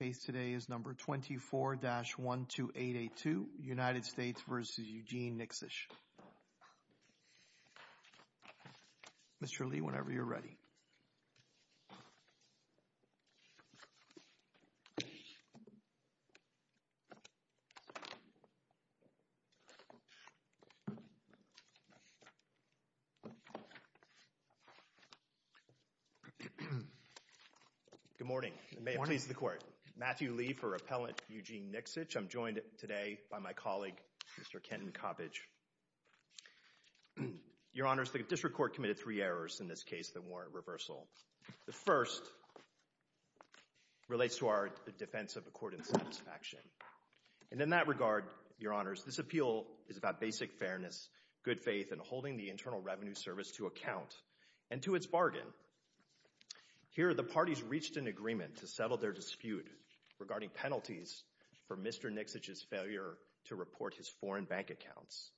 Mr. Lee, whenever you're ready. Good morning. Good morning. Good morning. Matthew Lee for Appellant Eugene Niksich. I'm joined today by my colleague Mr. Kenton Coppedge. Your Honors, the district court committed three errors in this case, the warrant reversal. The first relates to our defense of the court in satisfaction. And in that regard, Your Honors, this appeal is about basic fairness, good faith, and holding the Internal Revenue Service to account and to its bargain. Here, the parties reached an agreement to settle their dispute regarding penalties for Mr. Niksich's failure to report his foreign bank accounts.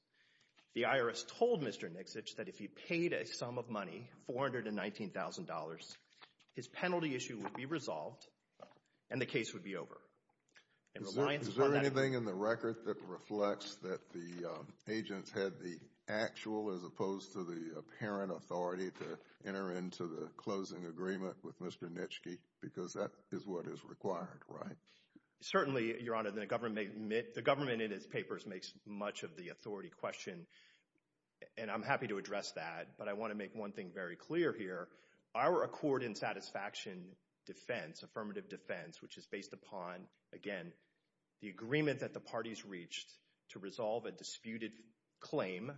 The IRS told Mr. Niksich that if he paid a sum of money, $419,000, his penalty issue would be resolved and the case would be over. Is there anything in the record that reflects that the agents had the actual as opposed to the apparent authority to enter into the closing agreement with Mr. Niksich because that is what is required, right? Certainly, Your Honor, the government in its papers makes much of the authority question and I'm happy to address that, but I want to make one thing very clear here. Our accord in satisfaction defense, affirmative defense, which is based upon, again, the agreement that the parties reached to resolve a disputed claim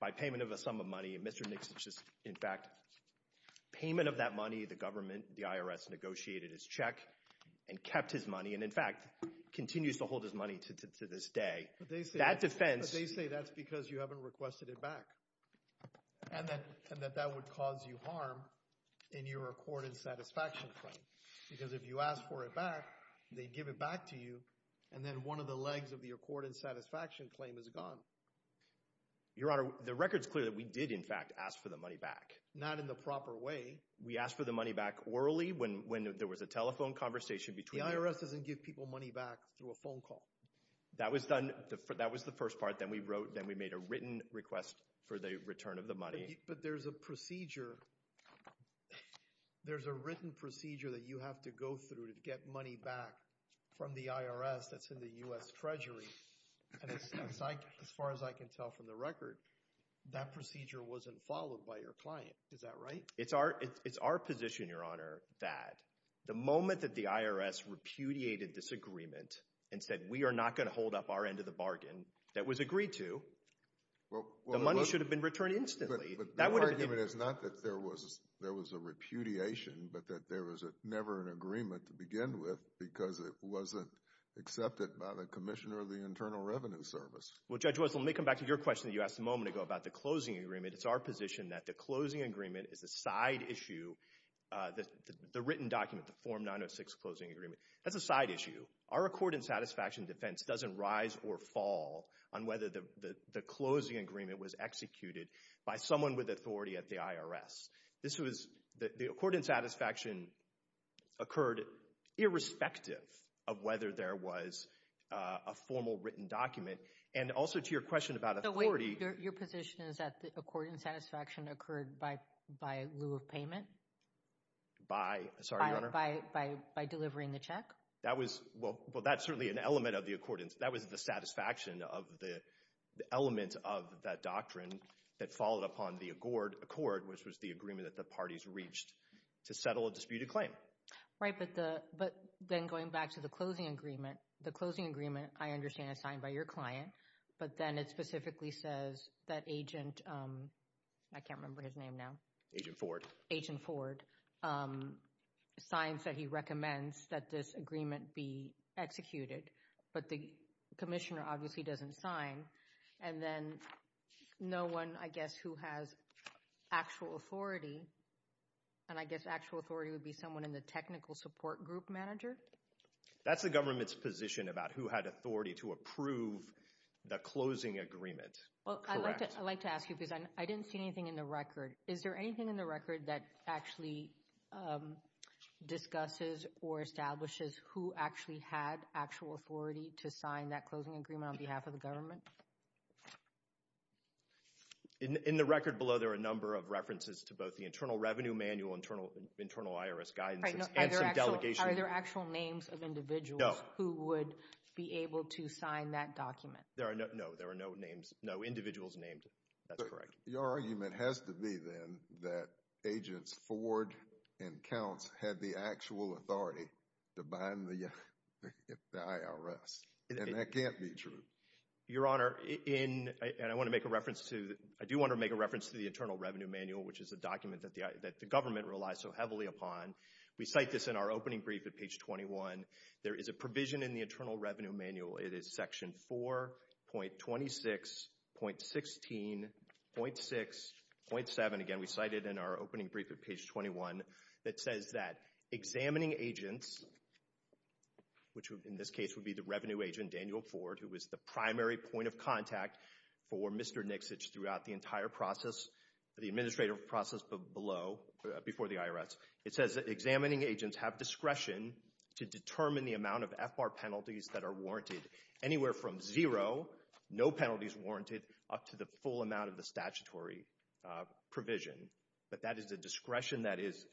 by payment of a sum of money and Mr. Niksich's, in fact, payment of that money, the government, the IRS negotiated his check and kept his money and, in fact, continues to hold his money to this day. That defense... But they say that's because you haven't requested it back and that that would cause you harm in your accord in satisfaction claim because if you ask for it back, they give it back to you and then one of the legs of the accord in satisfaction claim is gone. Your Honor, the record's clear that we did, in fact, ask for the money back. Not in the proper way. We asked for the money back orally when there was a telephone conversation between... The IRS doesn't give people money back through a phone call. That was done... That was the first part. Then we wrote... Then we made a written request for the return of the money. But there's a procedure... There's a written procedure that you have to go through to get money back from the IRS that's in the U.S. Treasury and, as far as I can tell from the record, that procedure wasn't followed by your client. Is that right? It's our position, Your Honor, that the moment that the IRS repudiated this agreement and said we are not going to hold up our end of the bargain that was agreed to, the money should have been returned instantly. But the argument is not that there was a repudiation, but that there was never an agreement to begin with because it wasn't accepted by the Commissioner of the Internal Revenue Service. Well, Judge Russell, let me come back to your question that you asked a moment ago about the closing agreement. It's our position that the closing agreement is a side issue. The written document, the Form 906 Closing Agreement, that's a side issue. Our accord and satisfaction defense doesn't rise or fall on whether the closing agreement was executed by someone with authority at the IRS. This was, the accord and satisfaction occurred irrespective of whether there was a formal written document. And also to your question about authority. Your position is that the accord and satisfaction occurred by lieu of payment? By, sorry, Your Honor? By delivering the check? That was, well, that's certainly an element of the accordance. That was the satisfaction of the element of that doctrine that followed upon the accord, which was the agreement that the parties reached to settle a disputed claim. Right, but then going back to the closing agreement, the closing agreement, I understand, is signed by your client. But then it specifically says that Agent, I can't remember his name now. Agent Ford. Agent Ford signs that he recommends that this agreement be executed. But the commissioner obviously doesn't sign. And then no one, I guess, who has actual authority, and I guess actual authority would be someone in the technical support group manager? That's the government's position about who had authority to approve the closing agreement. Correct? Well, I'd like to ask you, because I didn't see anything in the record. Is there anything in the record that actually discusses or establishes who actually had actual authority to sign that closing agreement on behalf of the government? In the record below, there are a number of references to both the Internal Revenue Manual, Internal IRS Guidance, and some delegations. Are there actual names of individuals who would be able to sign that document? No, there are no names, no individuals named. That's correct. Your argument has to be, then, that Agents Ford and Counts had the actual authority to bind the IRS, and that can't be true. Your Honor, in, and I want to make a reference to, I do want to make a reference to the Internal Revenue Manual, which is a document that the government relies so heavily upon. We cite this in our opening brief at page 21. There is a provision in the Internal Revenue Manual, it is section 4.26.16.6.7, again, we cite it in our opening brief at page 21, that says that examining agents, which in this case would be the revenue agent, Daniel Ford, who was the primary point of contact for Mr. Nixitch throughout the entire process, the administrative process below, before the It says that examining agents have discretion to determine the amount of FBAR penalties that are warranted, anywhere from zero, no penalties warranted, up to the full amount of the statutory provision. But that is a discretion that is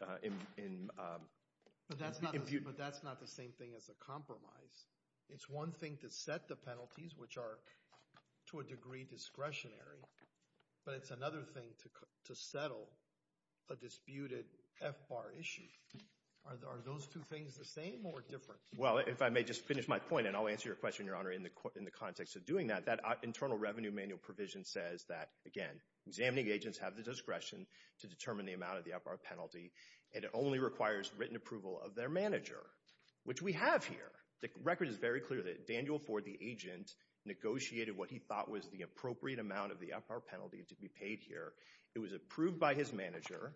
in But that's not the same thing as a compromise. It's one thing to set the penalties, which are to a degree discretionary, but it's another thing to settle a disputed FBAR issue. Are those two things the same or different? Well, if I may just finish my point, and I'll answer your question, Your Honor, in the context of doing that, that Internal Revenue Manual provision says that, again, examining agents have the discretion to determine the amount of the FBAR penalty, and it only requires written approval of their manager, which we have here. The record is very clear that Daniel Ford, the agent, negotiated what he thought was the appropriate amount of the FBAR penalty to be paid here. It was approved by his manager.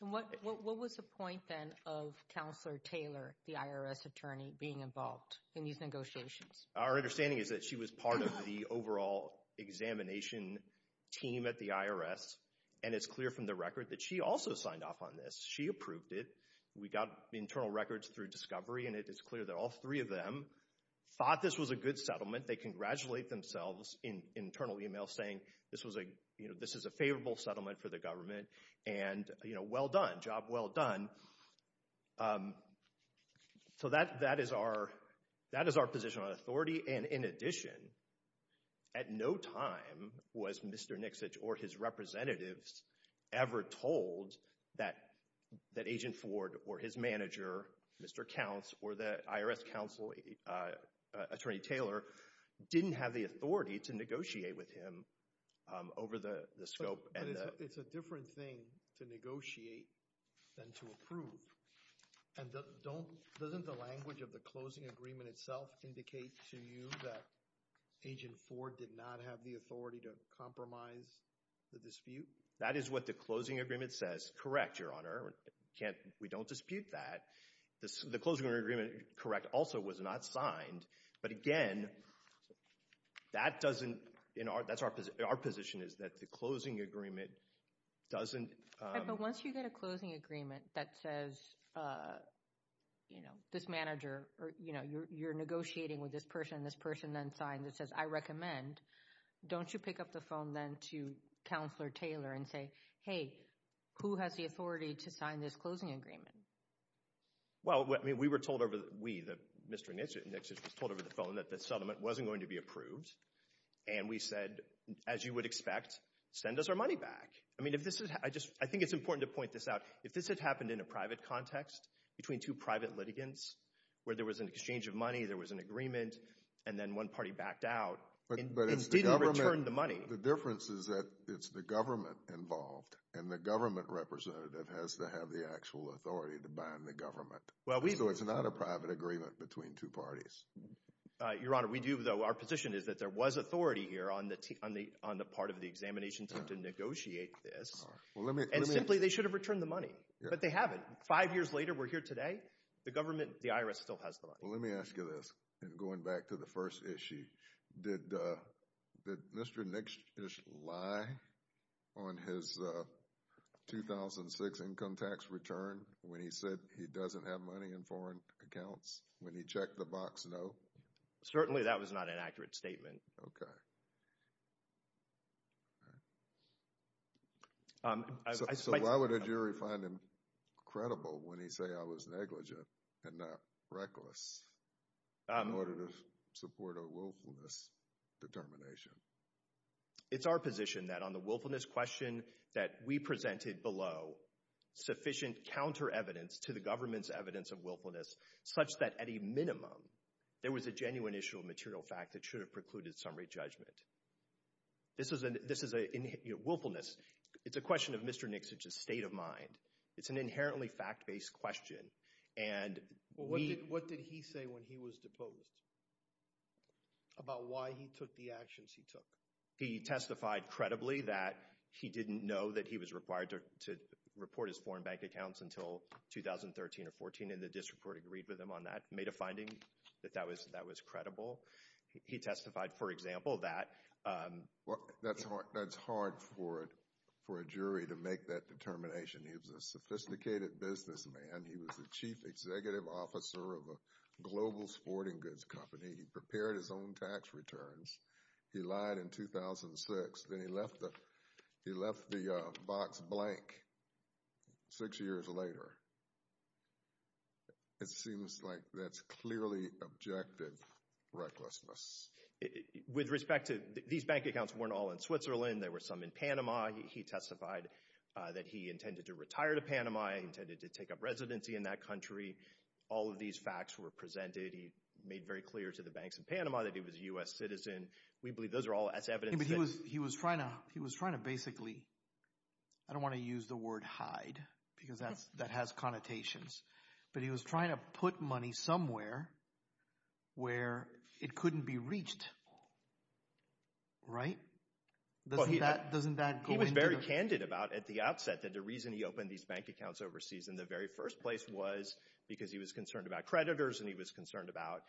What was the point, then, of Counselor Taylor, the IRS attorney, being involved in these negotiations? Our understanding is that she was part of the overall examination team at the IRS, and it's clear from the record that she also signed off on this. She approved it. We got internal records through Discovery, and it is clear that all three of them thought this was a good settlement. They congratulate themselves in internal email, saying this is a favorable settlement for the government, and well done, job well done. So, that is our position on authority, and in addition, at no time was Mr. Nixitch or his representatives ever told that Agent Ford or his manager, Mr. Counts, or the IRS counsel, Attorney Taylor, didn't have the authority to negotiate with him over the scope. It's a different thing to negotiate than to approve, and doesn't the language of the closing agreement itself indicate to you that Agent Ford did not have the authority to compromise the dispute? That is what the closing agreement says, correct, Your Honor. We don't dispute that. The closing agreement, correct, also was not signed, but again, that's our position, is that the closing agreement doesn't... But once you get a closing agreement that says, you know, this manager, you're negotiating with this person, this person then signs, it says, I recommend, don't you pick up the phone then to Counselor Taylor and say, hey, who has the authority to sign this closing agreement? Well, I mean, we were told over, we, Mr. Nixitch was told over the phone that the settlement wasn't going to be approved, and we said, as you would expect, send us our money back. I mean, if this is, I just, I think it's important to point this out, if this had happened in a private context, between two private litigants, where there was an exchange of money, there was an agreement, and then one party backed out, it didn't return the money. The difference is that it's the government involved, and the government representative has to have the actual authority to bind the government. So it's not a private agreement between two parties. Your Honor, we do, though, our position is that there was authority here on the part of the examination team to negotiate this, and simply, they should have returned the But they haven't. Five years later, we're here today, the government, the IRS still has the money. Well, let me ask you this, and going back to the first issue, did Mr. Nixitch lie on his 2006 income tax return, when he said he doesn't have money in foreign accounts, when he checked the box, no? Certainly that was not an accurate statement. Okay. So why would a jury find him credible when he say I was negligent, and not reckless, in order to support a willfulness determination? It's our position that on the willfulness question that we presented below, sufficient counter evidence to the government's evidence of willfulness, such that at a minimum, there was a genuine issue of material fact that should have precluded summary judgment. This is a willfulness, it's a question of Mr. Nixitch's state of mind. It's an inherently fact-based question. And we What did he say when he was deposed, about why he took the actions he took? He testified credibly that he didn't know that he was required to report his foreign bank accounts until 2013 or 14, and the district court agreed with him on that, made a finding that that was credible. He testified, for example, that Well, that's hard for a jury to make that determination. He was a sophisticated businessman, he was the chief executive officer of a global sporting goods company, he prepared his own tax returns, he lied in 2006, then he left the box blank six years later. It seems like that's clearly objective recklessness. With respect to, these bank accounts weren't all in Switzerland, there were some in Panama, he testified that he intended to retire to Panama, he intended to take up residency in that country, all of these facts were presented, he made very clear to the banks in Panama that he was a U.S. citizen, we believe those are all as evidence that He was trying to basically, I don't want to use the word hide, because that has connotations, but he was trying to put money somewhere where it couldn't be reached, right? He was very candid about, at the outset, that the reason he opened these bank accounts overseas in the very first place was because he was concerned about creditors and he was concerned about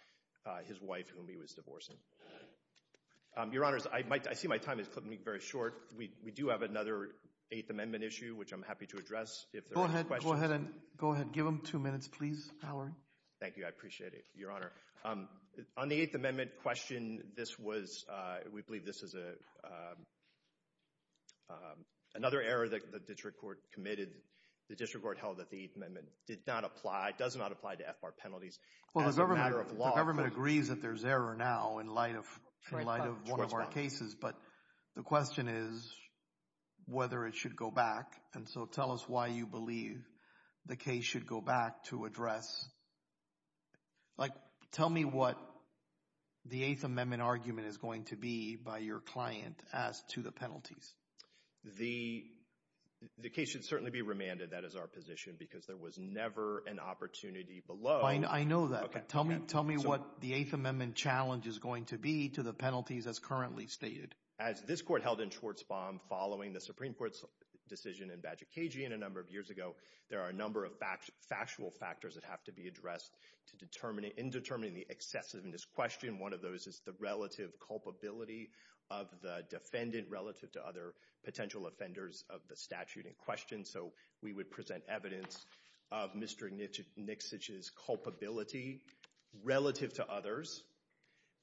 his wife, whom he was divorcing. Your Honor, I see my time is cutting me very short, we do have another 8th Amendment issue which I'm happy to address if there are questions. Go ahead, go ahead and give him two minutes, please, Mallory. Thank you, I appreciate it, Your Honor. On the 8th Amendment question, this was, we believe this was another error that the district court committed, the district court held that the 8th Amendment did not apply, does not apply to FBAR penalties, as a matter of law. The government agrees that there's error now in light of one of our cases, but the question is whether it should go back, and so tell us why you believe the case should go back to address, like, tell me what the 8th Amendment argument is going to be by your client as to the penalties. The case should certainly be remanded, that is our position, because there was never an opportunity below. I know that, but tell me what the 8th Amendment challenge is going to be to the penalties as currently stated. As this court held in Schwartzbaum following the Supreme Court's decision in Bajikagian a number of years ago, there are a number of factual factors that have to be addressed to determine, in determining the excessiveness question. One of those is the relative culpability of the defendant relative to other potential offenders of the statute in question. So we would present evidence of Mr. Nixitch's culpability relative to others.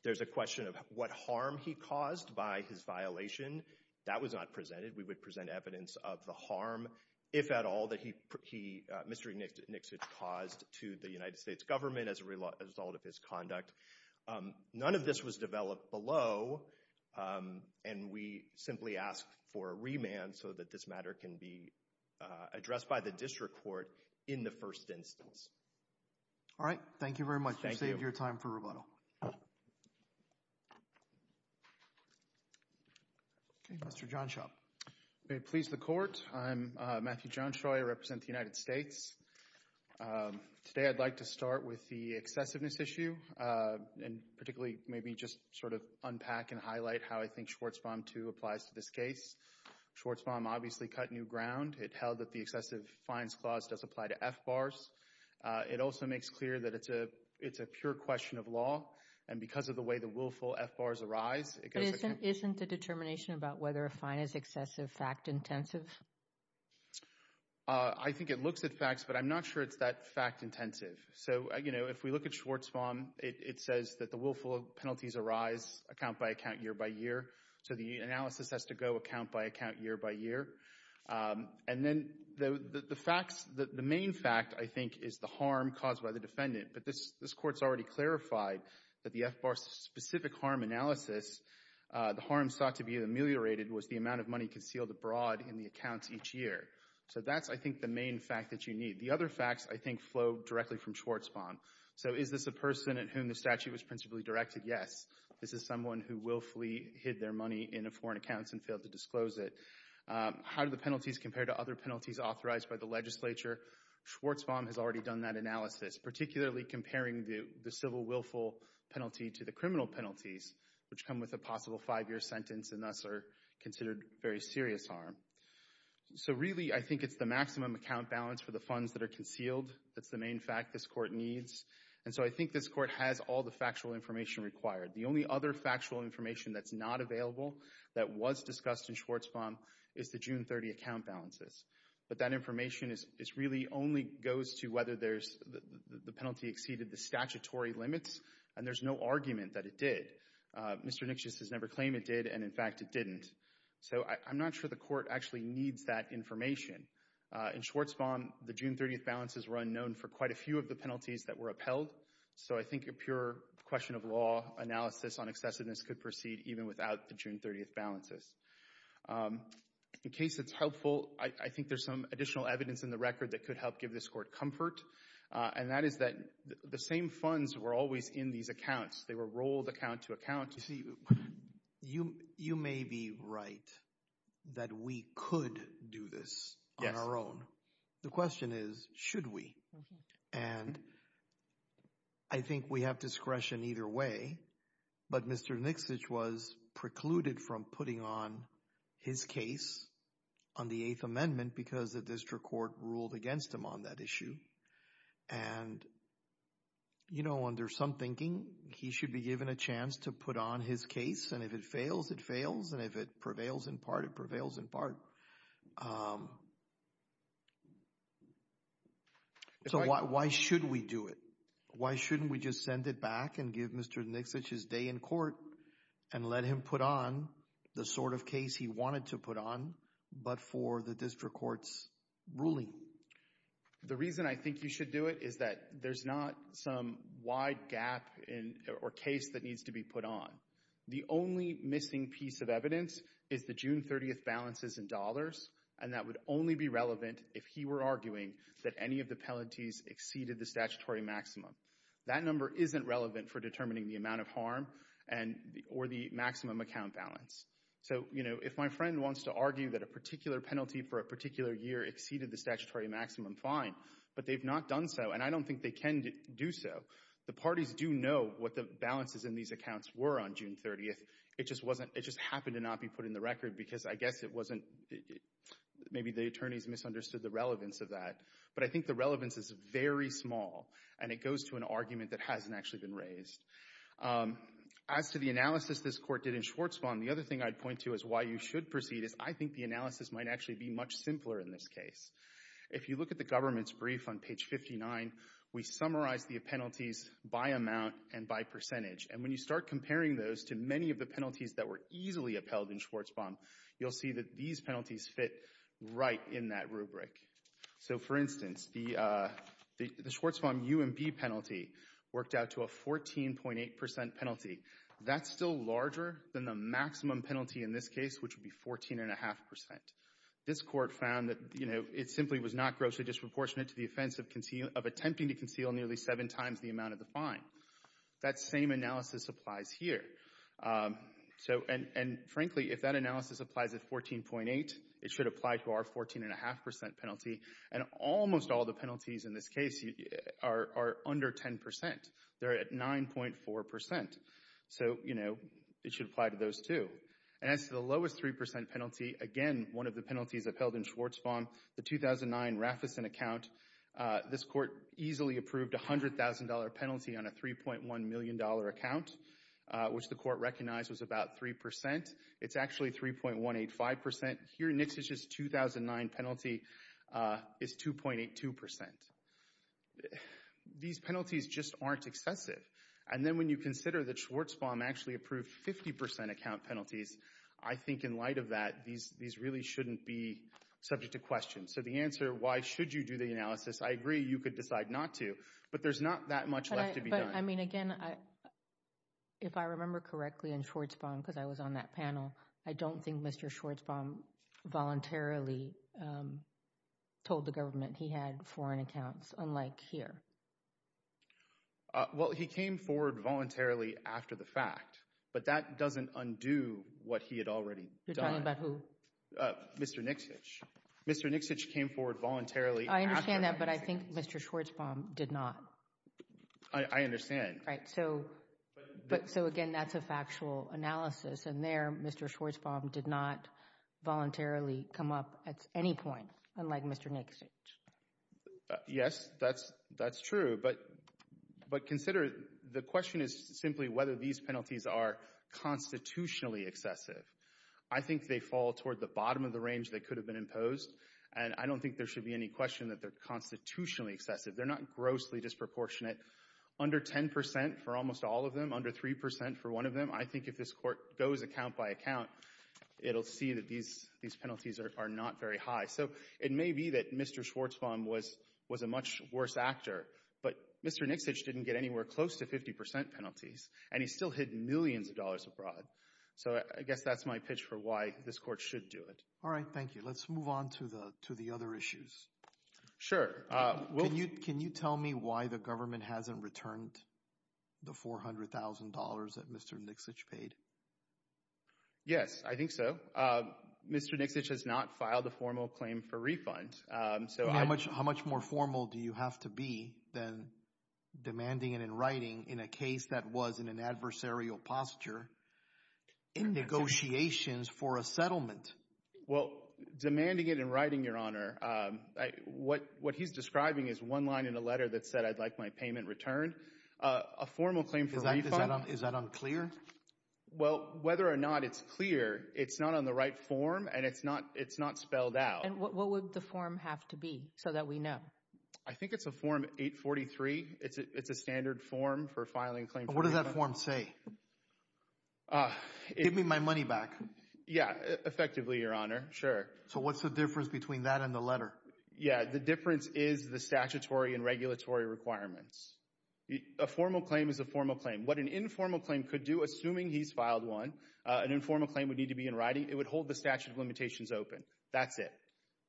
There's a question of what harm he caused by his violation. That was not presented. We would present evidence of the harm, if at all, that Mr. Nixitch caused to the United States government as a result of his conduct. None of this was developed below, and we simply ask for a remand so that this matter can be addressed by the district court in the first instance. All right. Thank you very much. Thank you. You saved your time for rebuttal. Okay, Mr. Johnshop. May it please the Court. I'm Matthew Johnshop. I represent the United States. Today I'd like to start with the excessiveness issue and particularly maybe just sort of unpack and highlight how I think Schwartzbaum II applies to this case. Schwartzbaum obviously cut new ground. It held that the excessive fines clause does apply to FBARs. It also makes clear that it's a pure question of law, and because of the way the willful FBARs arise, it goes against— But isn't the determination about whether a fine is excessive fact-intensive? I think it looks at facts, but I'm not sure it's that fact-intensive. So, you know, if we look at Schwartzbaum, it says that the willful penalties arise account-by-account, year-by-year, so the analysis has to go account-by-account, year-by-year. And then the facts—the main fact, I think, is the harm caused by the defendant. But this Court's already clarified that the FBAR's specific harm analysis, the harm sought to be ameliorated was the amount of money concealed abroad in the accounts each year. So that's, I think, the main fact that you need. The other facts, I think, flow directly from Schwartzbaum. So is this a person at whom the statute was principally directed? Yes. This is someone who willfully hid their money in a foreign account and failed to disclose it. How do the penalties compare to other penalties authorized by the legislature? Schwartzbaum has already done that analysis, particularly comparing the civil willful penalty to the criminal penalties, which come with a possible five-year sentence and thus are considered very serious harm. So really, I think it's the maximum account balance for the funds that are concealed. That's the main fact this Court needs. And so I think this Court has all the factual information required. The only other factual information that's not available that was discussed in Schwartzbaum is the June 30 account balances. But that information really only goes to whether the penalty exceeded the statutory limits, and there's no argument that it did. Mr. Nixius has never claimed it did, and in fact, it didn't. So I'm not sure the Court actually needs that information. In Schwartzbaum, the June 30 balances were unknown for quite a few of the penalties that were upheld. So I think a pure question of law analysis on excessiveness could proceed even without the June 30 balances. In case it's helpful, I think there's some additional evidence in the record that could help give this Court comfort, and that is that the same funds were always in these accounts. They were rolled account to account. You see, you may be right that we could do this on our own. The question is, should we? And I think we have discretion either way, but Mr. Nixius was precluded from putting on his case on the Eighth Amendment because the District Court ruled against him on that issue. And, you know, under some thinking, he should be given a chance to put on his case, and if it fails, it fails, and if it prevails in part, it prevails in part. So why should we do it? Why shouldn't we just send it back and give Mr. Nixius his day in court and let him put on the sort of case he wanted to put on, but for the District Court's ruling? The reason I think you should do it is that there's not some wide gap or case that needs to be put on. The only missing piece of evidence is the June 30 balances in dollars, and that would only be relevant if he were arguing that any of the penalties exceeded the statutory maximum. That number isn't relevant for determining the amount of harm or the maximum account balance. So, you know, if my friend wants to argue that a particular penalty for a particular year exceeded the statutory maximum, fine, but they've not done so, and I don't think they can do so. The parties do know what the balances in these accounts were on June 30. It just wasn't, it just happened to not be put in the record because I guess it wasn't, maybe the attorneys misunderstood the relevance of that. But I think the relevance is very small, and it goes to an argument that hasn't actually been raised. As to the analysis this Court did in Schwartzbond, the other thing I'd point to is why you should proceed is I think the analysis might actually be much simpler in this case. If you look at the government's brief on page 59, we summarize the penalties by amount and by percentage. And when you start comparing those to many of the penalties that were easily upheld in Schwartzbond, you'll see that these penalties fit right in that rubric. So, for instance, the Schwartzbond UMB penalty worked out to a 14.8 percent penalty. That's still larger than the maximum penalty in this case, which would be 14.5 percent. This Court found that, you know, it simply was not grossly disproportionate to the offense of attempting to conceal nearly seven times the amount of the fine. That same analysis applies here. So, and frankly, if that analysis applies at 14.8, it should apply to our 14.5 percent penalty. And almost all the penalties in this case are under 10 percent. They're at 9.4 percent. So, you know, it should apply to those too. And as to the lowest 3 percent penalty, again, one of the penalties upheld in Schwartzbond, the 2009 Raffison account, this Court easily approved a $100,000 penalty on a $3.1 million account, which the Court recognized was about 3 percent. It's actually 3.185 percent. Here, Nixish's 2009 penalty is 2.82 percent. These penalties just aren't excessive. And then when you consider that Schwartzbond actually approved 50 percent account penalties, I think in light of that, these really shouldn't be subject to question. So the answer, why should you do the analysis, I agree, you could decide not to. But there's not that much left to be done. But I mean, again, if I remember correctly in Schwartzbond, because I was on that panel, I don't think Mr. Schwartzbond voluntarily told the government he had foreign accounts, unlike here. Well, he came forward voluntarily after the fact. But that doesn't undo what he had already done. You're talking about who? Mr. Nixish. Mr. Nixish came forward voluntarily. I understand that. But I think Mr. Schwartzbond did not. I understand. Right. So again, that's a factual analysis. And there, Mr. Schwartzbond did not voluntarily come up at any point, unlike Mr. Nixish. Yes, that's true. But consider, the question is simply whether these penalties are constitutionally excessive. I think they fall toward the bottom of the range that could have been imposed. And I don't think there should be any question that they're constitutionally excessive. They're not grossly disproportionate. Under 10% for almost all of them, under 3% for one of them, I think if this Court goes account by account, it'll see that these penalties are not very high. So it may be that Mr. Schwartzbond was a much worse actor, but Mr. Nixish didn't get anywhere close to 50% penalties. And he still hid millions of dollars abroad. So I guess that's my pitch for why this Court should do it. All right. Thank you. Let's move on to the other issues. Sure. Can you tell me why the government hasn't returned the $400,000 that Mr. Nixish paid? Yes, I think so. Mr. Nixish has not filed a formal claim for refund. How much more formal do you have to be than demanding it in writing in a case that was in an adversarial posture, in negotiations for a settlement? Well, demanding it in writing, Your Honor, what he's describing is one line in a letter that said, I'd like my payment returned. A formal claim for refund? Is that unclear? Well, whether or not it's clear, it's not on the right form and it's not spelled out. And what would the form have to be so that we know? I think it's a Form 843. It's a standard form for filing claims. What does that form say? Give me my money back. Yeah, effectively, Your Honor. Sure. So what's the difference between that and the letter? Yeah, the difference is the statutory and regulatory requirements. A formal claim is a formal claim. What an informal claim could do, assuming he's filed one, an informal claim would need to be in writing. It would hold the statute of limitations open. That's it.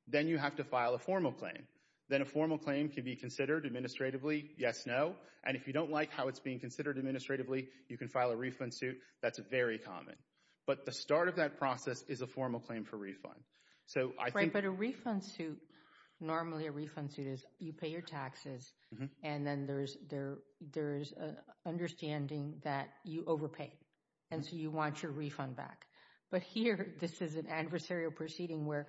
Then you have to file a formal claim. Then a formal claim can be considered administratively. Yes, no. And if you don't like how it's being considered administratively, you can file a refund suit. That's very common. But the start of that process is a formal claim for refund. Right, but a refund suit, normally a refund suit is you pay your taxes and then there's there's an understanding that you overpaid. And so you want your refund back. But here, this is an adversarial proceeding where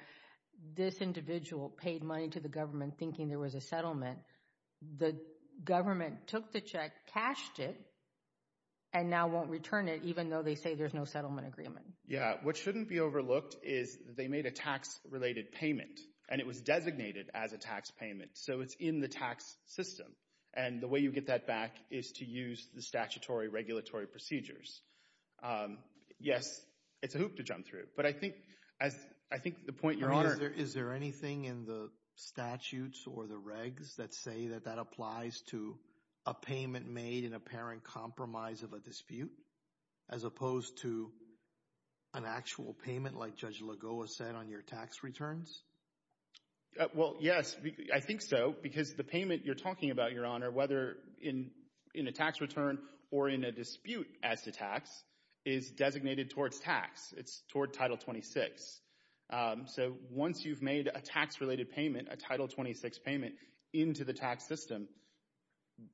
this individual paid money to the government thinking there was a settlement. The government took the check, cashed it, and now won't return it, even though they say there's no settlement agreement. Yeah, what shouldn't be overlooked is they made a tax-related payment. And it was designated as a tax payment. So it's in the tax system. And the way you get that back is to use the statutory regulatory procedures. Yes, it's a hoop to jump through. But I think as I think the point you're on. Is there anything in the statutes or the regs that say that that applies to a payment made in apparent compromise of a dispute as opposed to an actual payment like Judge Lagoa said on your tax returns? Well, yes, I think so, because the payment you're talking about, Your Honor, whether in in a tax return or in a dispute as a tax is designated towards tax. It's toward Title 26. So once you've made a tax-related payment, a Title 26 payment into the tax system,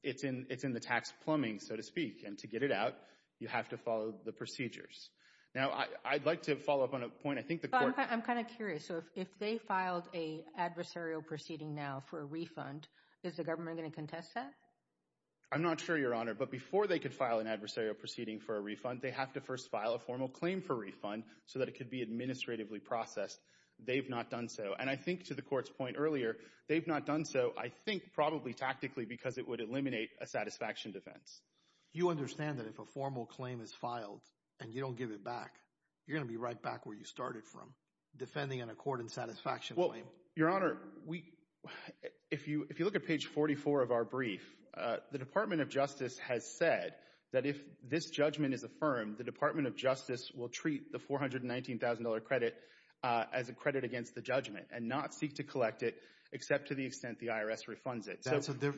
it's in it's in the tax plumbing, so to speak. And to get it out, you have to follow the procedures. Now, I'd like to follow up on a point. I'm kind of curious. So if they filed a adversarial proceeding now for a refund, is the government going to contest that? I'm not sure, Your Honor, but before they could file an adversarial proceeding for a refund, they have to first file a formal claim for refund so that it could be administratively They've not done so. And I think to the court's point earlier, they've not done so, I think probably tactically because it would eliminate a satisfaction defense. You understand that if a formal claim is filed and you don't give it back, you're going to be right back where you started from, defending an accord and satisfaction claim. Well, Your Honor, if you look at page 44 of our brief, the Department of Justice has said that if this judgment is affirmed, the Department of Justice will treat the $419,000 credit as a credit against the judgment and not seek to collect it, except to the extent the IRS refunds it.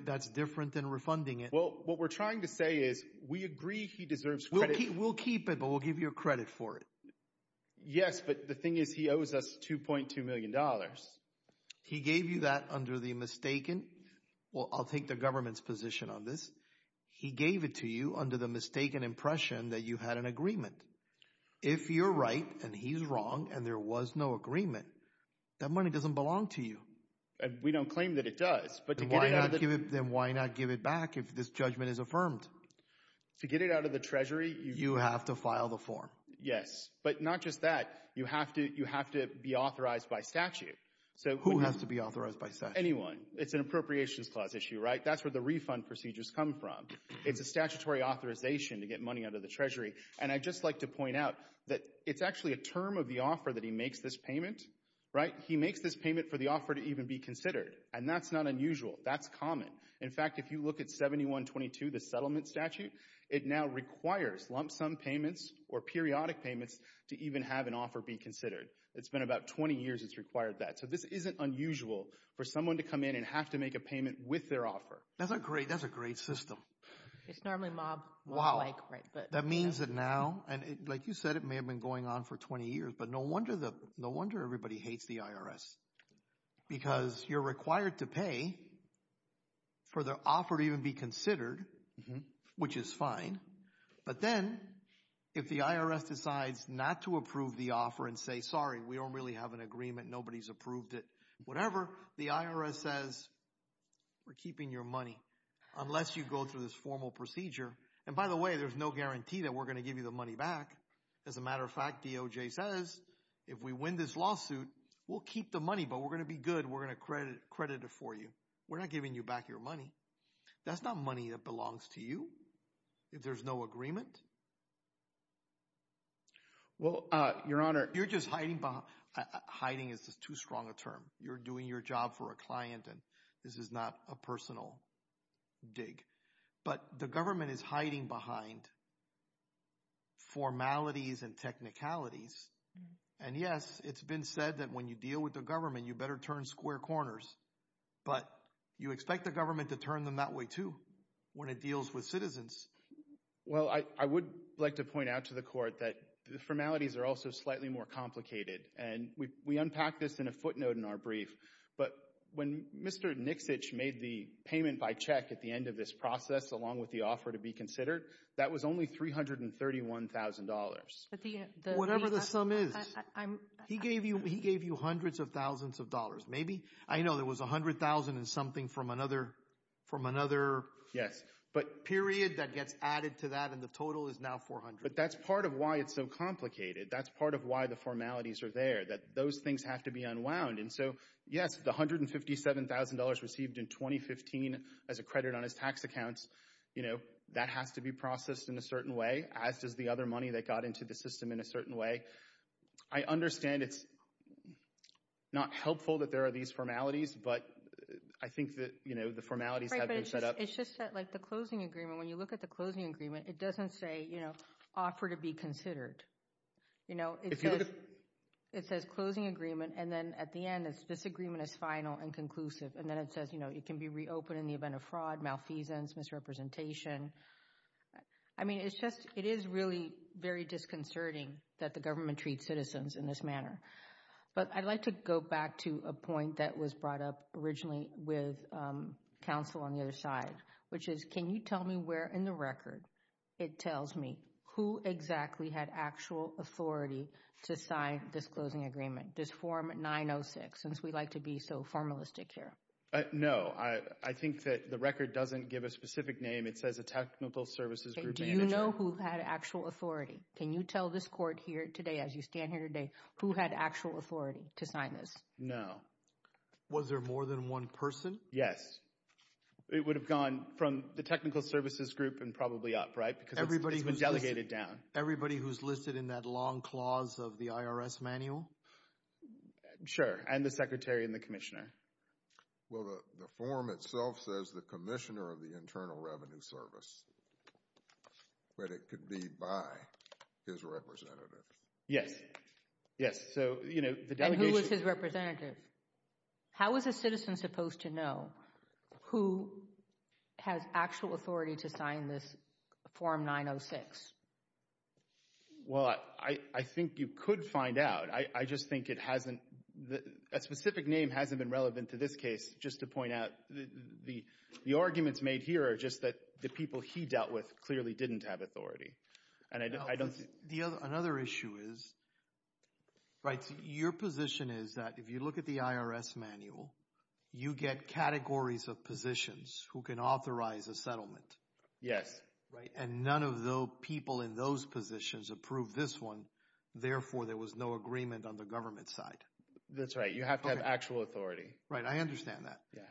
That's different than refunding it. Well, what we're trying to say is we agree he deserves credit. We'll keep it, but we'll give you a credit for it. Yes, but the thing is he owes us $2.2 million. He gave you that under the mistaken. Well, I'll take the government's position on this. He gave it to you under the mistaken impression that you had an agreement. If you're right and he's wrong and there was no agreement, that money doesn't belong to you. We don't claim that it does. But why not give it back if this judgment is affirmed? To get it out of the Treasury, you have to file the form. Yes, but not just that. You have to be authorized by statute. So who has to be authorized by statute? Anyone. It's an appropriations clause issue, right? That's where the refund procedures come from. It's a statutory authorization to get money out of the Treasury. And I'd just like to point out that it's actually a term of the offer that he makes this payment, right? He makes this payment for the offer to even be considered. And that's not unusual. That's common. In fact, if you look at 7122, the settlement statute, it now requires lump sum payments or periodic payments to even have an offer be considered. It's been about 20 years it's required that. So this isn't unusual for someone to come in and have to make a payment with their offer. That's a great system. It's normally mob-like, right? That means that now, and like you said, it may have been going on for 20 years, but no wonder everybody hates the IRS. Because you're required to pay for the offer to even be considered, which is fine. But then, if the IRS decides not to approve the offer and say, sorry, we don't really have an agreement, nobody's approved it, whatever, the IRS says, we're keeping your money, unless you go through this formal procedure. And by the way, there's no guarantee that we're going to give you the money back. As a matter of fact, DOJ says, if we win this lawsuit, we'll keep the money, but we're going to be good. We're going to credit it for you. We're not giving you back your money. That's not money that belongs to you, if there's no agreement. Well, Your Honor, you're just hiding behind, hiding is just too strong a term. You're doing your job for a client, and this is not a personal dig. But the government is hiding behind formalities and technicalities. And yes, it's been said that when you deal with the government, you better turn square corners. But you expect the government to turn them that way too, when it deals with citizens. Well, I would like to point out to the Court that the formalities are also slightly more complicated. And we unpacked this in a footnote in our brief. But when Mr. Nixitch made the payment by check at the end of this process, along with the offer to be considered, that was only $331,000. Whatever the sum is. He gave you hundreds of thousands of dollars. I know there was $100,000 and something from another period that gets added to that. And the total is now $400,000. But that's part of why it's so complicated. That's part of why the formalities are there. That those things have to be unwound. And so, yes, the $157,000 received in 2015 as a credit on his tax accounts, that has to be processed in a certain way, as does the other money that got into the system in a certain way. I understand it's not helpful that there are these formalities. But I think that, you know, the formalities have been set up. It's just that, like, the closing agreement, when you look at the closing agreement, it doesn't say, you know, offer to be considered. You know, it says closing agreement. And then at the end, this agreement is final and conclusive. And then it says, you know, it can be reopened in the event of fraud, malfeasance, misrepresentation. I mean, it's just, it is really very disconcerting that the government treats citizens in this manner. But I'd like to go back to a point that was brought up originally with counsel on the other side, which is, can you tell me where in the record it tells me who exactly had actual authority to sign this closing agreement? This form 906, since we like to be so formalistic here. No, I think that the record doesn't give a specific name. It says a technical services group manager. Do you know who had actual authority? Can you tell this court here today, as you stand here today, who had actual authority to sign this? No. Was there more than one person? Yes. It would have gone from the technical services group and probably up, right? Because it's been delegated down. Everybody who's listed in that long clause of the IRS manual? Sure, and the secretary and the commissioner. Well, the form itself says the commissioner of the Internal Revenue Service. But it could be by his representative. Yes, yes. So, you know, the delegation... And who was his representative? How was a citizen supposed to know who has actual authority to sign this form 906? Well, I think you could find out. I just think it hasn't... A specific name hasn't been relevant to this case. Just to point out, the arguments made here are just that the people he dealt with clearly didn't have authority. And I don't think... Another issue is... Right. Your position is that if you look at the IRS manual, you get categories of positions who can authorize a settlement. Yes. Right. And none of the people in those positions approved this one. Therefore, there was no agreement on the government side. That's right. You have to have actual authority. Right. I understand that. Yeah.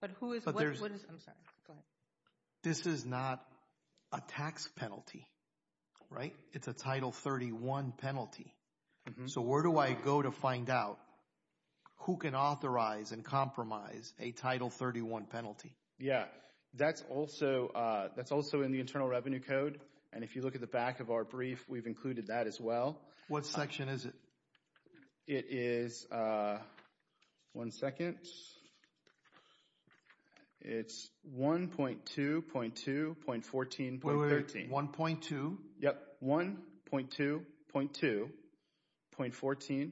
But who is... But there's... I'm sorry. Go ahead. This is not a tax penalty, right? It's a Title 31 penalty. So where do I go to find out who can authorize and compromise a Title 31 penalty? Yeah. That's also in the Internal Revenue Code. And if you look at the back of our brief, we've included that as well. What section is it? It is... One second. It's 1.2.2.14.13. 1.2? Yep. 1.2.2.14.13.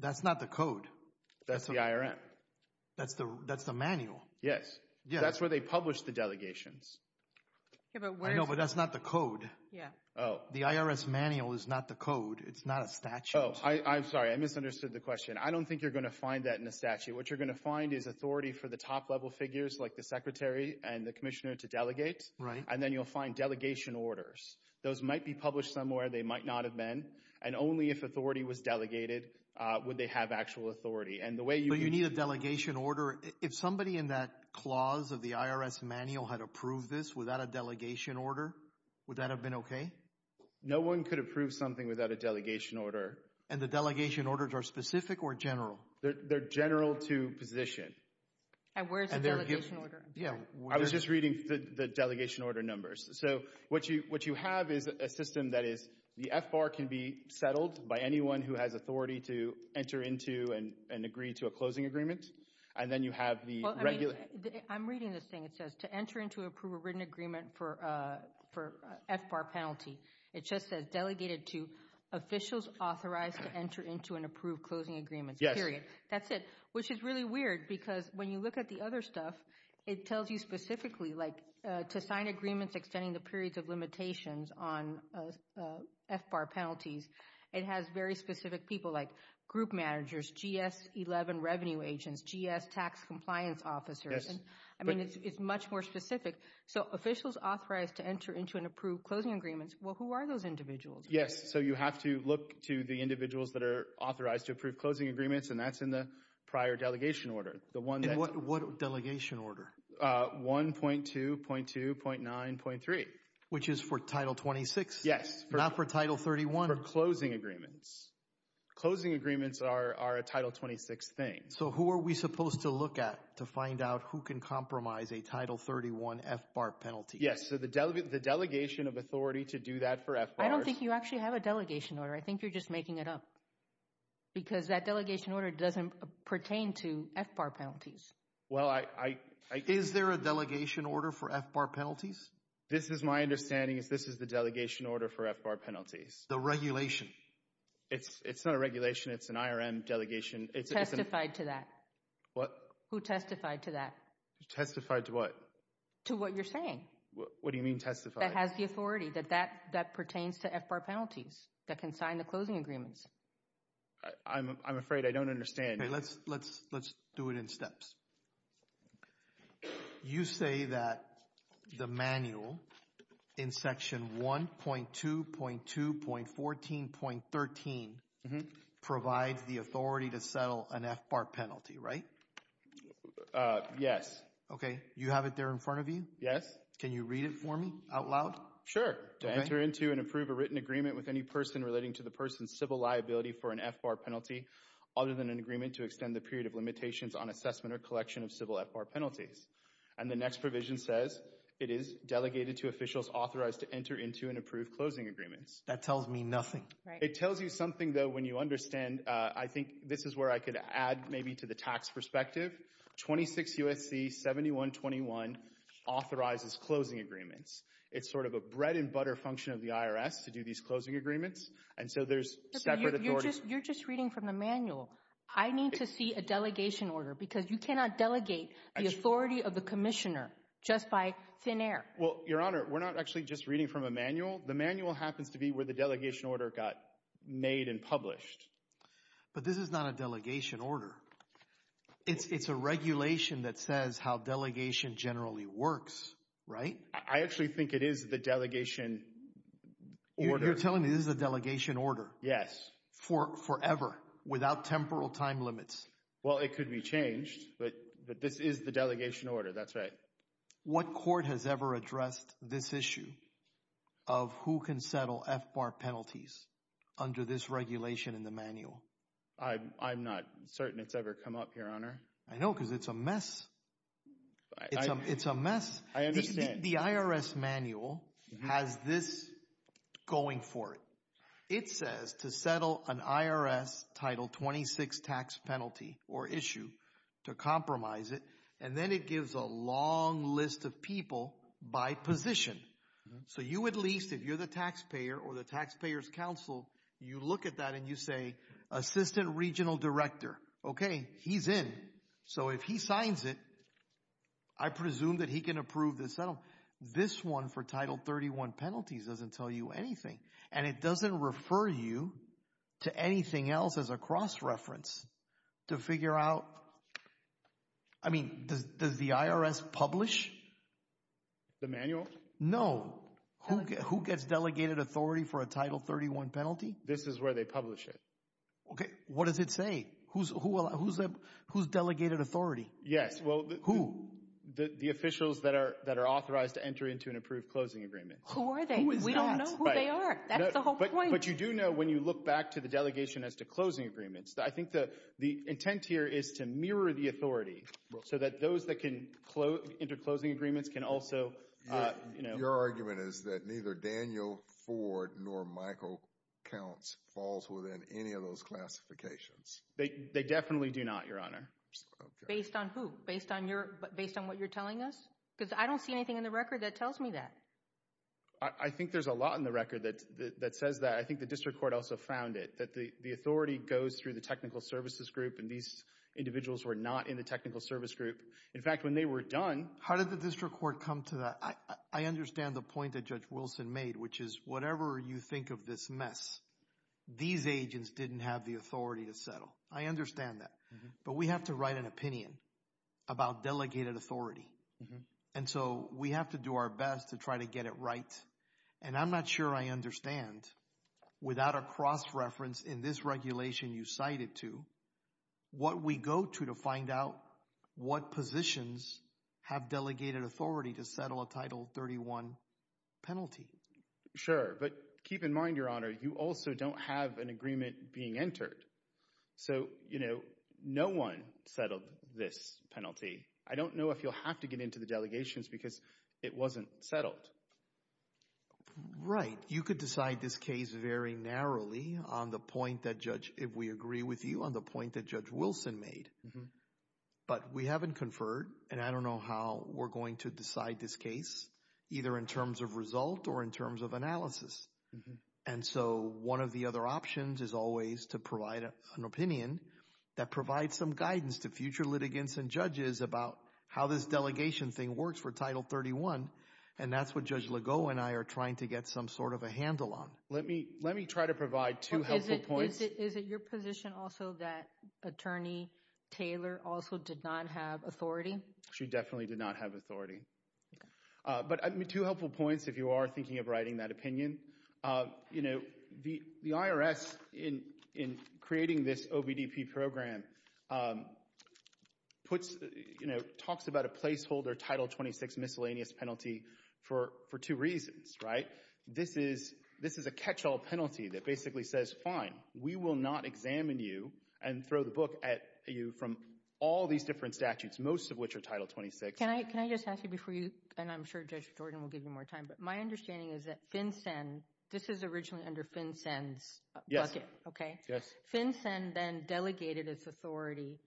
That's not the code. That's the IRM. That's the manual. Yes. That's where they publish the delegations. I know, but that's not the code. Yeah. The IRS manual is not the code. It's not a statute. Oh, I'm sorry. I misunderstood the question. I don't think you're going to find that in a statute. What you're going to find is authority for the top-level figures, like the secretary and the commissioner, to delegate. Right. And then you'll find delegation orders. Those might be published somewhere. They might not have been. And only if authority was delegated would they have actual authority. And the way you... But you need a delegation order. If somebody in that clause of the IRS manual had approved this without a delegation order, would that have been okay? No one could approve something without a delegation order. And the delegation orders are specific or general? They're general to position. And where's the delegation order? Yeah. I was just reading the delegation order numbers. So what you have is a system that is, the FBAR can be settled by anyone who has authority to enter into and agree to a closing agreement. And then you have the regular... I'm reading this thing. It says, to enter into approval written agreement for FBAR penalty. It just says, delegated to officials authorized to enter into an approved closing agreement. Yes. That's it. Which is really weird because when you look at the other stuff, it tells you specifically like, to sign agreements extending the periods of limitations on FBAR penalties. It has very specific people like group managers, GS 11 revenue agents, GS tax compliance officers. Yes. I mean, it's much more specific. So officials authorized to enter into an approved closing agreement. Well, who are those individuals? So you have to look to the individuals that are authorized to approve closing agreements. And that's in the prior delegation order. The one that... What delegation order? 1.2.2.9.3. Which is for title 26? Yes. Not for title 31? For closing agreements. Closing agreements are a title 26 thing. So who are we supposed to look at to find out who can compromise a title 31 FBAR penalty? Yes. So the delegation of authority to do that for FBAR... I don't think you actually have a delegation order. I think you're just making it up. Because that delegation order doesn't pertain to FBAR penalties. Well, I... Is there a delegation order for FBAR penalties? This is my understanding is this is the delegation order for FBAR penalties. The regulation. It's not a regulation. It's an IRM delegation. It's... Testified to that. What? Who testified to that? Testified to what? To what you're saying. What do you mean testified? That has the authority that that pertains to FBAR penalties. That can sign the closing agreements. I'm afraid I don't understand. Let's do it in steps. You say that the manual in section 1.2.2.14.13 provides the authority to settle an FBAR penalty, right? Yes. Okay. You have it there in front of you? Yes. Can you read it for me out loud? To enter into and approve a written agreement with any person relating to the person's civil liability for an FBAR penalty other than an agreement to extend the period of limitations on assessment or collection of civil FBAR penalties. And the next provision says it is delegated to officials authorized to enter into and approve closing agreements. That tells me nothing. It tells you something, though, when you understand, I think this is where I could add maybe to the tax perspective. 26 U.S.C. 7121 authorizes closing agreements. It's sort of a bread and butter function of the IRS to do these closing agreements. And so there's separate authorities. You're just reading from the manual. I need to see a delegation order because you cannot delegate the authority of the commissioner just by thin air. Well, Your Honor, we're not actually just reading from a manual. The manual happens to be where the delegation order got made and published. But this is not a delegation order. It's a regulation that says how delegation generally works, right? I actually think it is the delegation order. You're telling me this is a delegation order? Yes. For forever, without temporal time limits? Well, it could be changed. But this is the delegation order. That's right. What court has ever addressed this issue of who can settle FBAR penalties under this regulation in the manual? I'm not certain it's ever come up, Your Honor. I know because it's a mess. It's a mess. I understand. The IRS manual has this going for it. It says to settle an IRS Title 26 tax penalty or issue to compromise it. And then it gives a long list of people by position. So you at least, if you're the taxpayer or the Taxpayers Council, you look at that and you say, Assistant Regional Director. Okay, he's in. So if he signs it, I presume that he can approve the settlement. This one for Title 31 penalties doesn't tell you anything. And it doesn't refer you to anything else as a cross-reference to figure out. I mean, does the IRS publish? The manual? No. Who gets delegated authority for a Title 31 penalty? This is where they publish it. Okay. What does it say? Who's delegated authority? Yes. Well, who? The officials that are authorized to enter into an approved closing agreement. Who are they? We don't know who they are. That's the whole point. But you do know when you look back to the delegation as to closing agreements. I think the intent here is to mirror the authority so that those that can enter closing agreements can also, you know. Your argument is that neither Daniel Ford nor Michael Counts falls within any of those classifications. They definitely do not, Your Honor. Based on who? Based on what you're telling us? Because I don't see anything in the record that tells me that. I think there's a lot in the record that says that. I think the district court also found it, that the authority goes through the technical services group and these individuals were not in the technical service group. In fact, when they were done. How did the district court come to that? I understand the point that Judge Wilson made, which is whatever you think of this mess, these agents didn't have the authority to settle. I understand that. But we have to write an opinion about delegated authority. And so we have to do our best to try to get it right. And I'm not sure I understand, without a cross-reference in this regulation you cited to, what we go to to find out what positions have delegated authority to settle a Title 31 penalty. Sure. But keep in mind, Your Honor, you also don't have an agreement being entered. So, you know, no one settled this penalty. I don't know if you'll have to get into the delegations because it wasn't settled. Right. You could decide this case very narrowly on the point that, Judge, if we agree with you on the point that Judge Wilson made. But we haven't conferred. And I don't know how we're going to decide this case, either in terms of result or in terms of analysis. And so one of the other options is always to provide an opinion that provides some guidance to future litigants and judges about how this delegation thing works for Title 31. And that's what Judge Legault and I are trying to get some sort of a handle on. Let me let me try to provide two helpful points. Is it your position also that Attorney Taylor also did not have authority? She definitely did not have authority. But two helpful points if you are thinking of writing that opinion. You know, the IRS, in creating this OBDP program, puts, you know, talks about a placeholder Title 26 miscellaneous penalty for two reasons, right? This is a catch-all penalty that basically says, fine, we will not examine you and throw the book at you from all these different statutes, most of which are Title 26. Can I just ask you before you, and I'm sure Judge Jordan will give you more time, but my understanding is that FinCEN, this is originally under FinCEN's bucket, okay? Yes. FinCEN then delegated its authority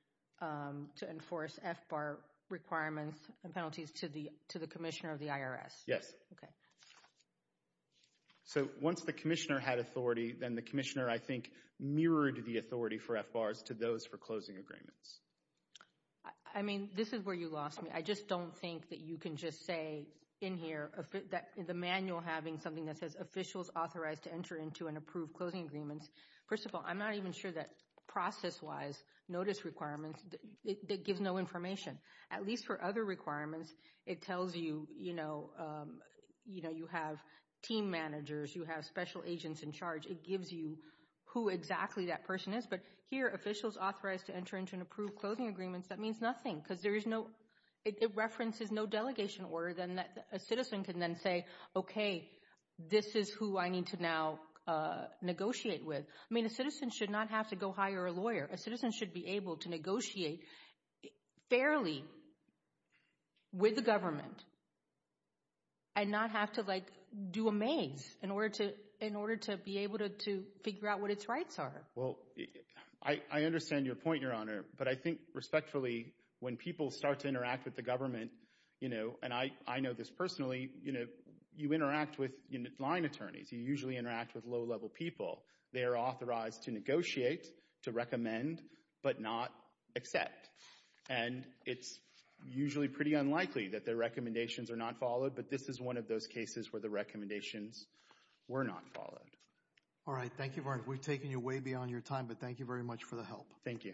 to enforce FBAR requirements and penalties to the Commissioner of the IRS. Yes. Okay. So once the Commissioner had authority, then the Commissioner, I think, mirrored the authority for FBARs to those for closing agreements. I mean, this is where you lost me. I just don't think that you can just say in here, the manual having something that says, officials authorized to enter into and approve closing agreements. First of all, I'm not even sure that process-wise, notice requirements, it gives no information. At least for other requirements, it tells you, you know, you know, you have team managers, you have special agents in charge. It gives you who exactly that person is. But here, officials authorized to enter into and approve closing agreements, that means nothing because there is no, it references no delegation order. Then a citizen can then say, okay, this is who I need to now negotiate with. I mean, a citizen should not have to go hire a lawyer. A citizen should be able to negotiate fairly with the government and not have to, like, do a maze in order to, in order to be able to figure out what its rights are. Well, I understand your point, Your Honor. But I think, respectfully, when people start to interact with the government, you know, and I know this personally, you know, you interact with line attorneys. You usually interact with low-level people. They are authorized to negotiate, to recommend, but not accept. And it's usually pretty unlikely that their recommendations are not followed. But this is one of those cases where the recommendations were not followed. All right. Thank you, Your Honor. We've taken you way beyond your time, but thank you very much for the help. Thank you.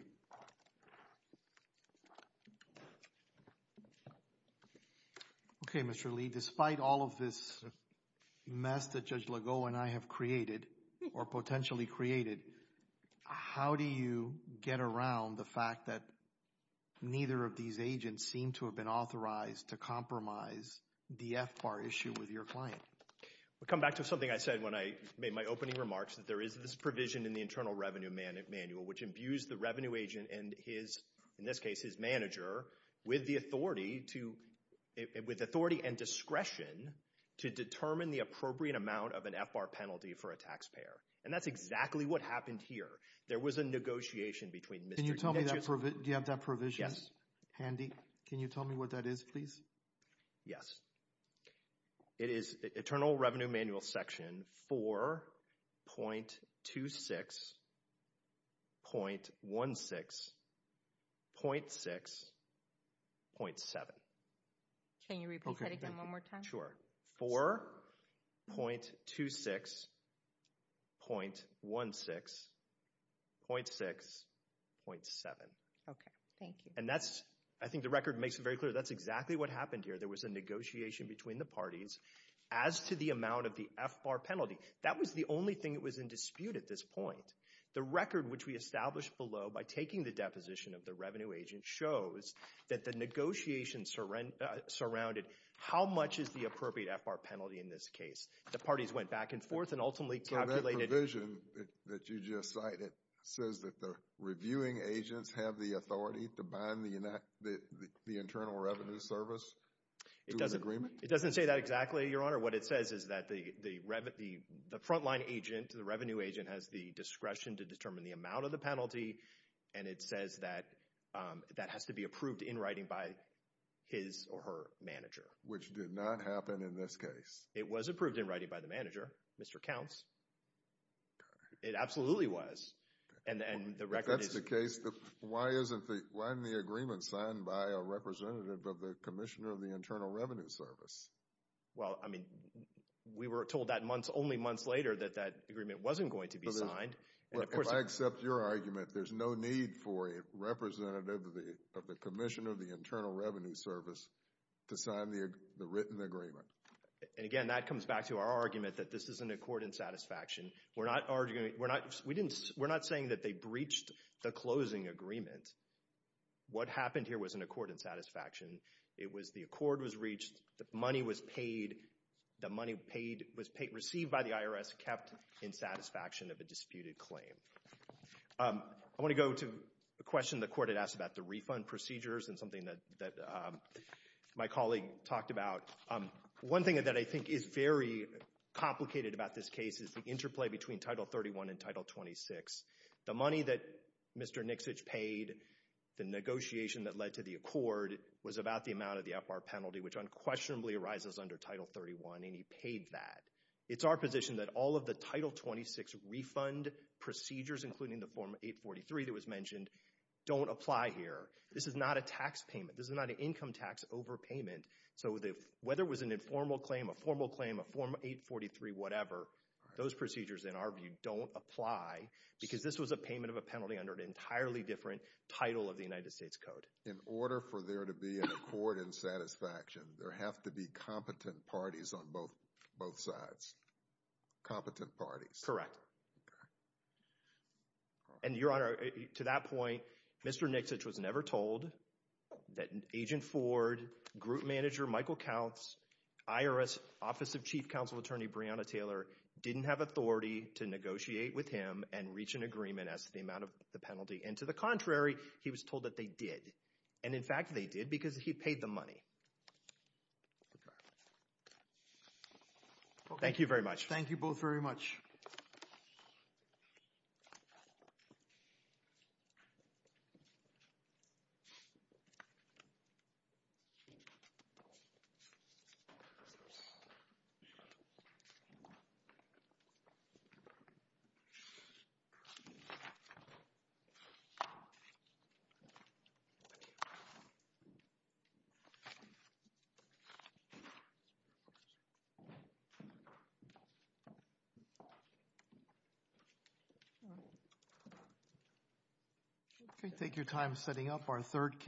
Okay, Mr. Lee. Despite all of this mess that Judge Legault and I have created, or potentially created, how do you get around the fact that neither of these agents seem to have been authorized to compromise the FBAR issue with your client? We come back to something I said when I made my opening remarks, that there is this provision in the Internal Revenue Manual, which imbues the revenue agent and his, in this case, his manager, with the authority to, with authority and discretion, to determine the appropriate amount of an FBAR penalty for a taxpayer. And that's exactly what happened here. There was a negotiation between Mr. Can you tell me, do you have that provision handy? Can you tell me what that is, please? Yes. It is Internal Revenue Manual Section 4.26.16.6.7. Can you repeat that again one more time? Sure. 4.26.16.6.7. Okay. Thank you. And that's, I think the record makes it very clear, that's exactly what happened here. There was a negotiation between the parties as to the amount of the FBAR penalty. That was the only thing that was in dispute at this point. The record, which we established below by taking the deposition of the revenue agent, shows that the negotiation surrounded how much is the appropriate FBAR penalty in this case. The parties went back and forth and ultimately calculated... So that provision that you just cited says that the reviewing agents have the authority to bind the Internal Revenue Service to an agreement? It doesn't say that exactly, Your Honor. What it says is that the front line agent, the revenue agent, has the discretion to determine the amount of the penalty and it says that that has to be approved in writing by his or her manager. Which did not happen in this case. It was approved in writing by the manager, Mr. Counts. It absolutely was. And the record is... Why isn't the agreement signed by a representative of the Commissioner of the Internal Revenue Service? Well, I mean, we were told that only months later that that agreement wasn't going to be signed. But if I accept your argument, there's no need for a representative of the Commissioner of the Internal Revenue Service to sign the written agreement. And again, that comes back to our argument that this is an accord in satisfaction. We're not arguing, we're not, we didn't, we're not saying that they breached the closing agreement. What happened here was an accord in satisfaction. It was the accord was reached. The money was paid. The money paid, was paid, received by the IRS kept in satisfaction of a disputed claim. I want to go to a question the Court had asked about the refund procedures and something that my colleague talked about. One thing that I think is very complicated about this case is the interplay between Title 31 and Title 26. The money that Mr. Nixitch paid, the negotiation that led to the accord was about the amount of the APAR penalty, which unquestionably arises under Title 31. And he paid that. It's our position that all of the Title 26 refund procedures, including the Form 843 that was mentioned, don't apply here. This is not a tax payment. This is not an income tax overpayment. So whether it was an informal claim, a formal claim, a Form 843, whatever, those procedures in our view don't apply because this was a payment of a penalty under an entirely different title of the United States Code. In order for there to be an accord in satisfaction, there have to be competent parties on both sides. Competent parties. Correct. And Your Honor, to that point, Mr. Nixitch was never told that Agent Ford, Group Manager Michael Counts, IRS Office of Chief Counsel Attorney Breonna Taylor, didn't have authority to negotiate with him and reach an agreement as to the amount of the penalty. And to the contrary, he was told that they did. And in fact, they did because he paid them money. Thank you very much. Thank you both very much. Thank you. Okay, take your time setting up our third case.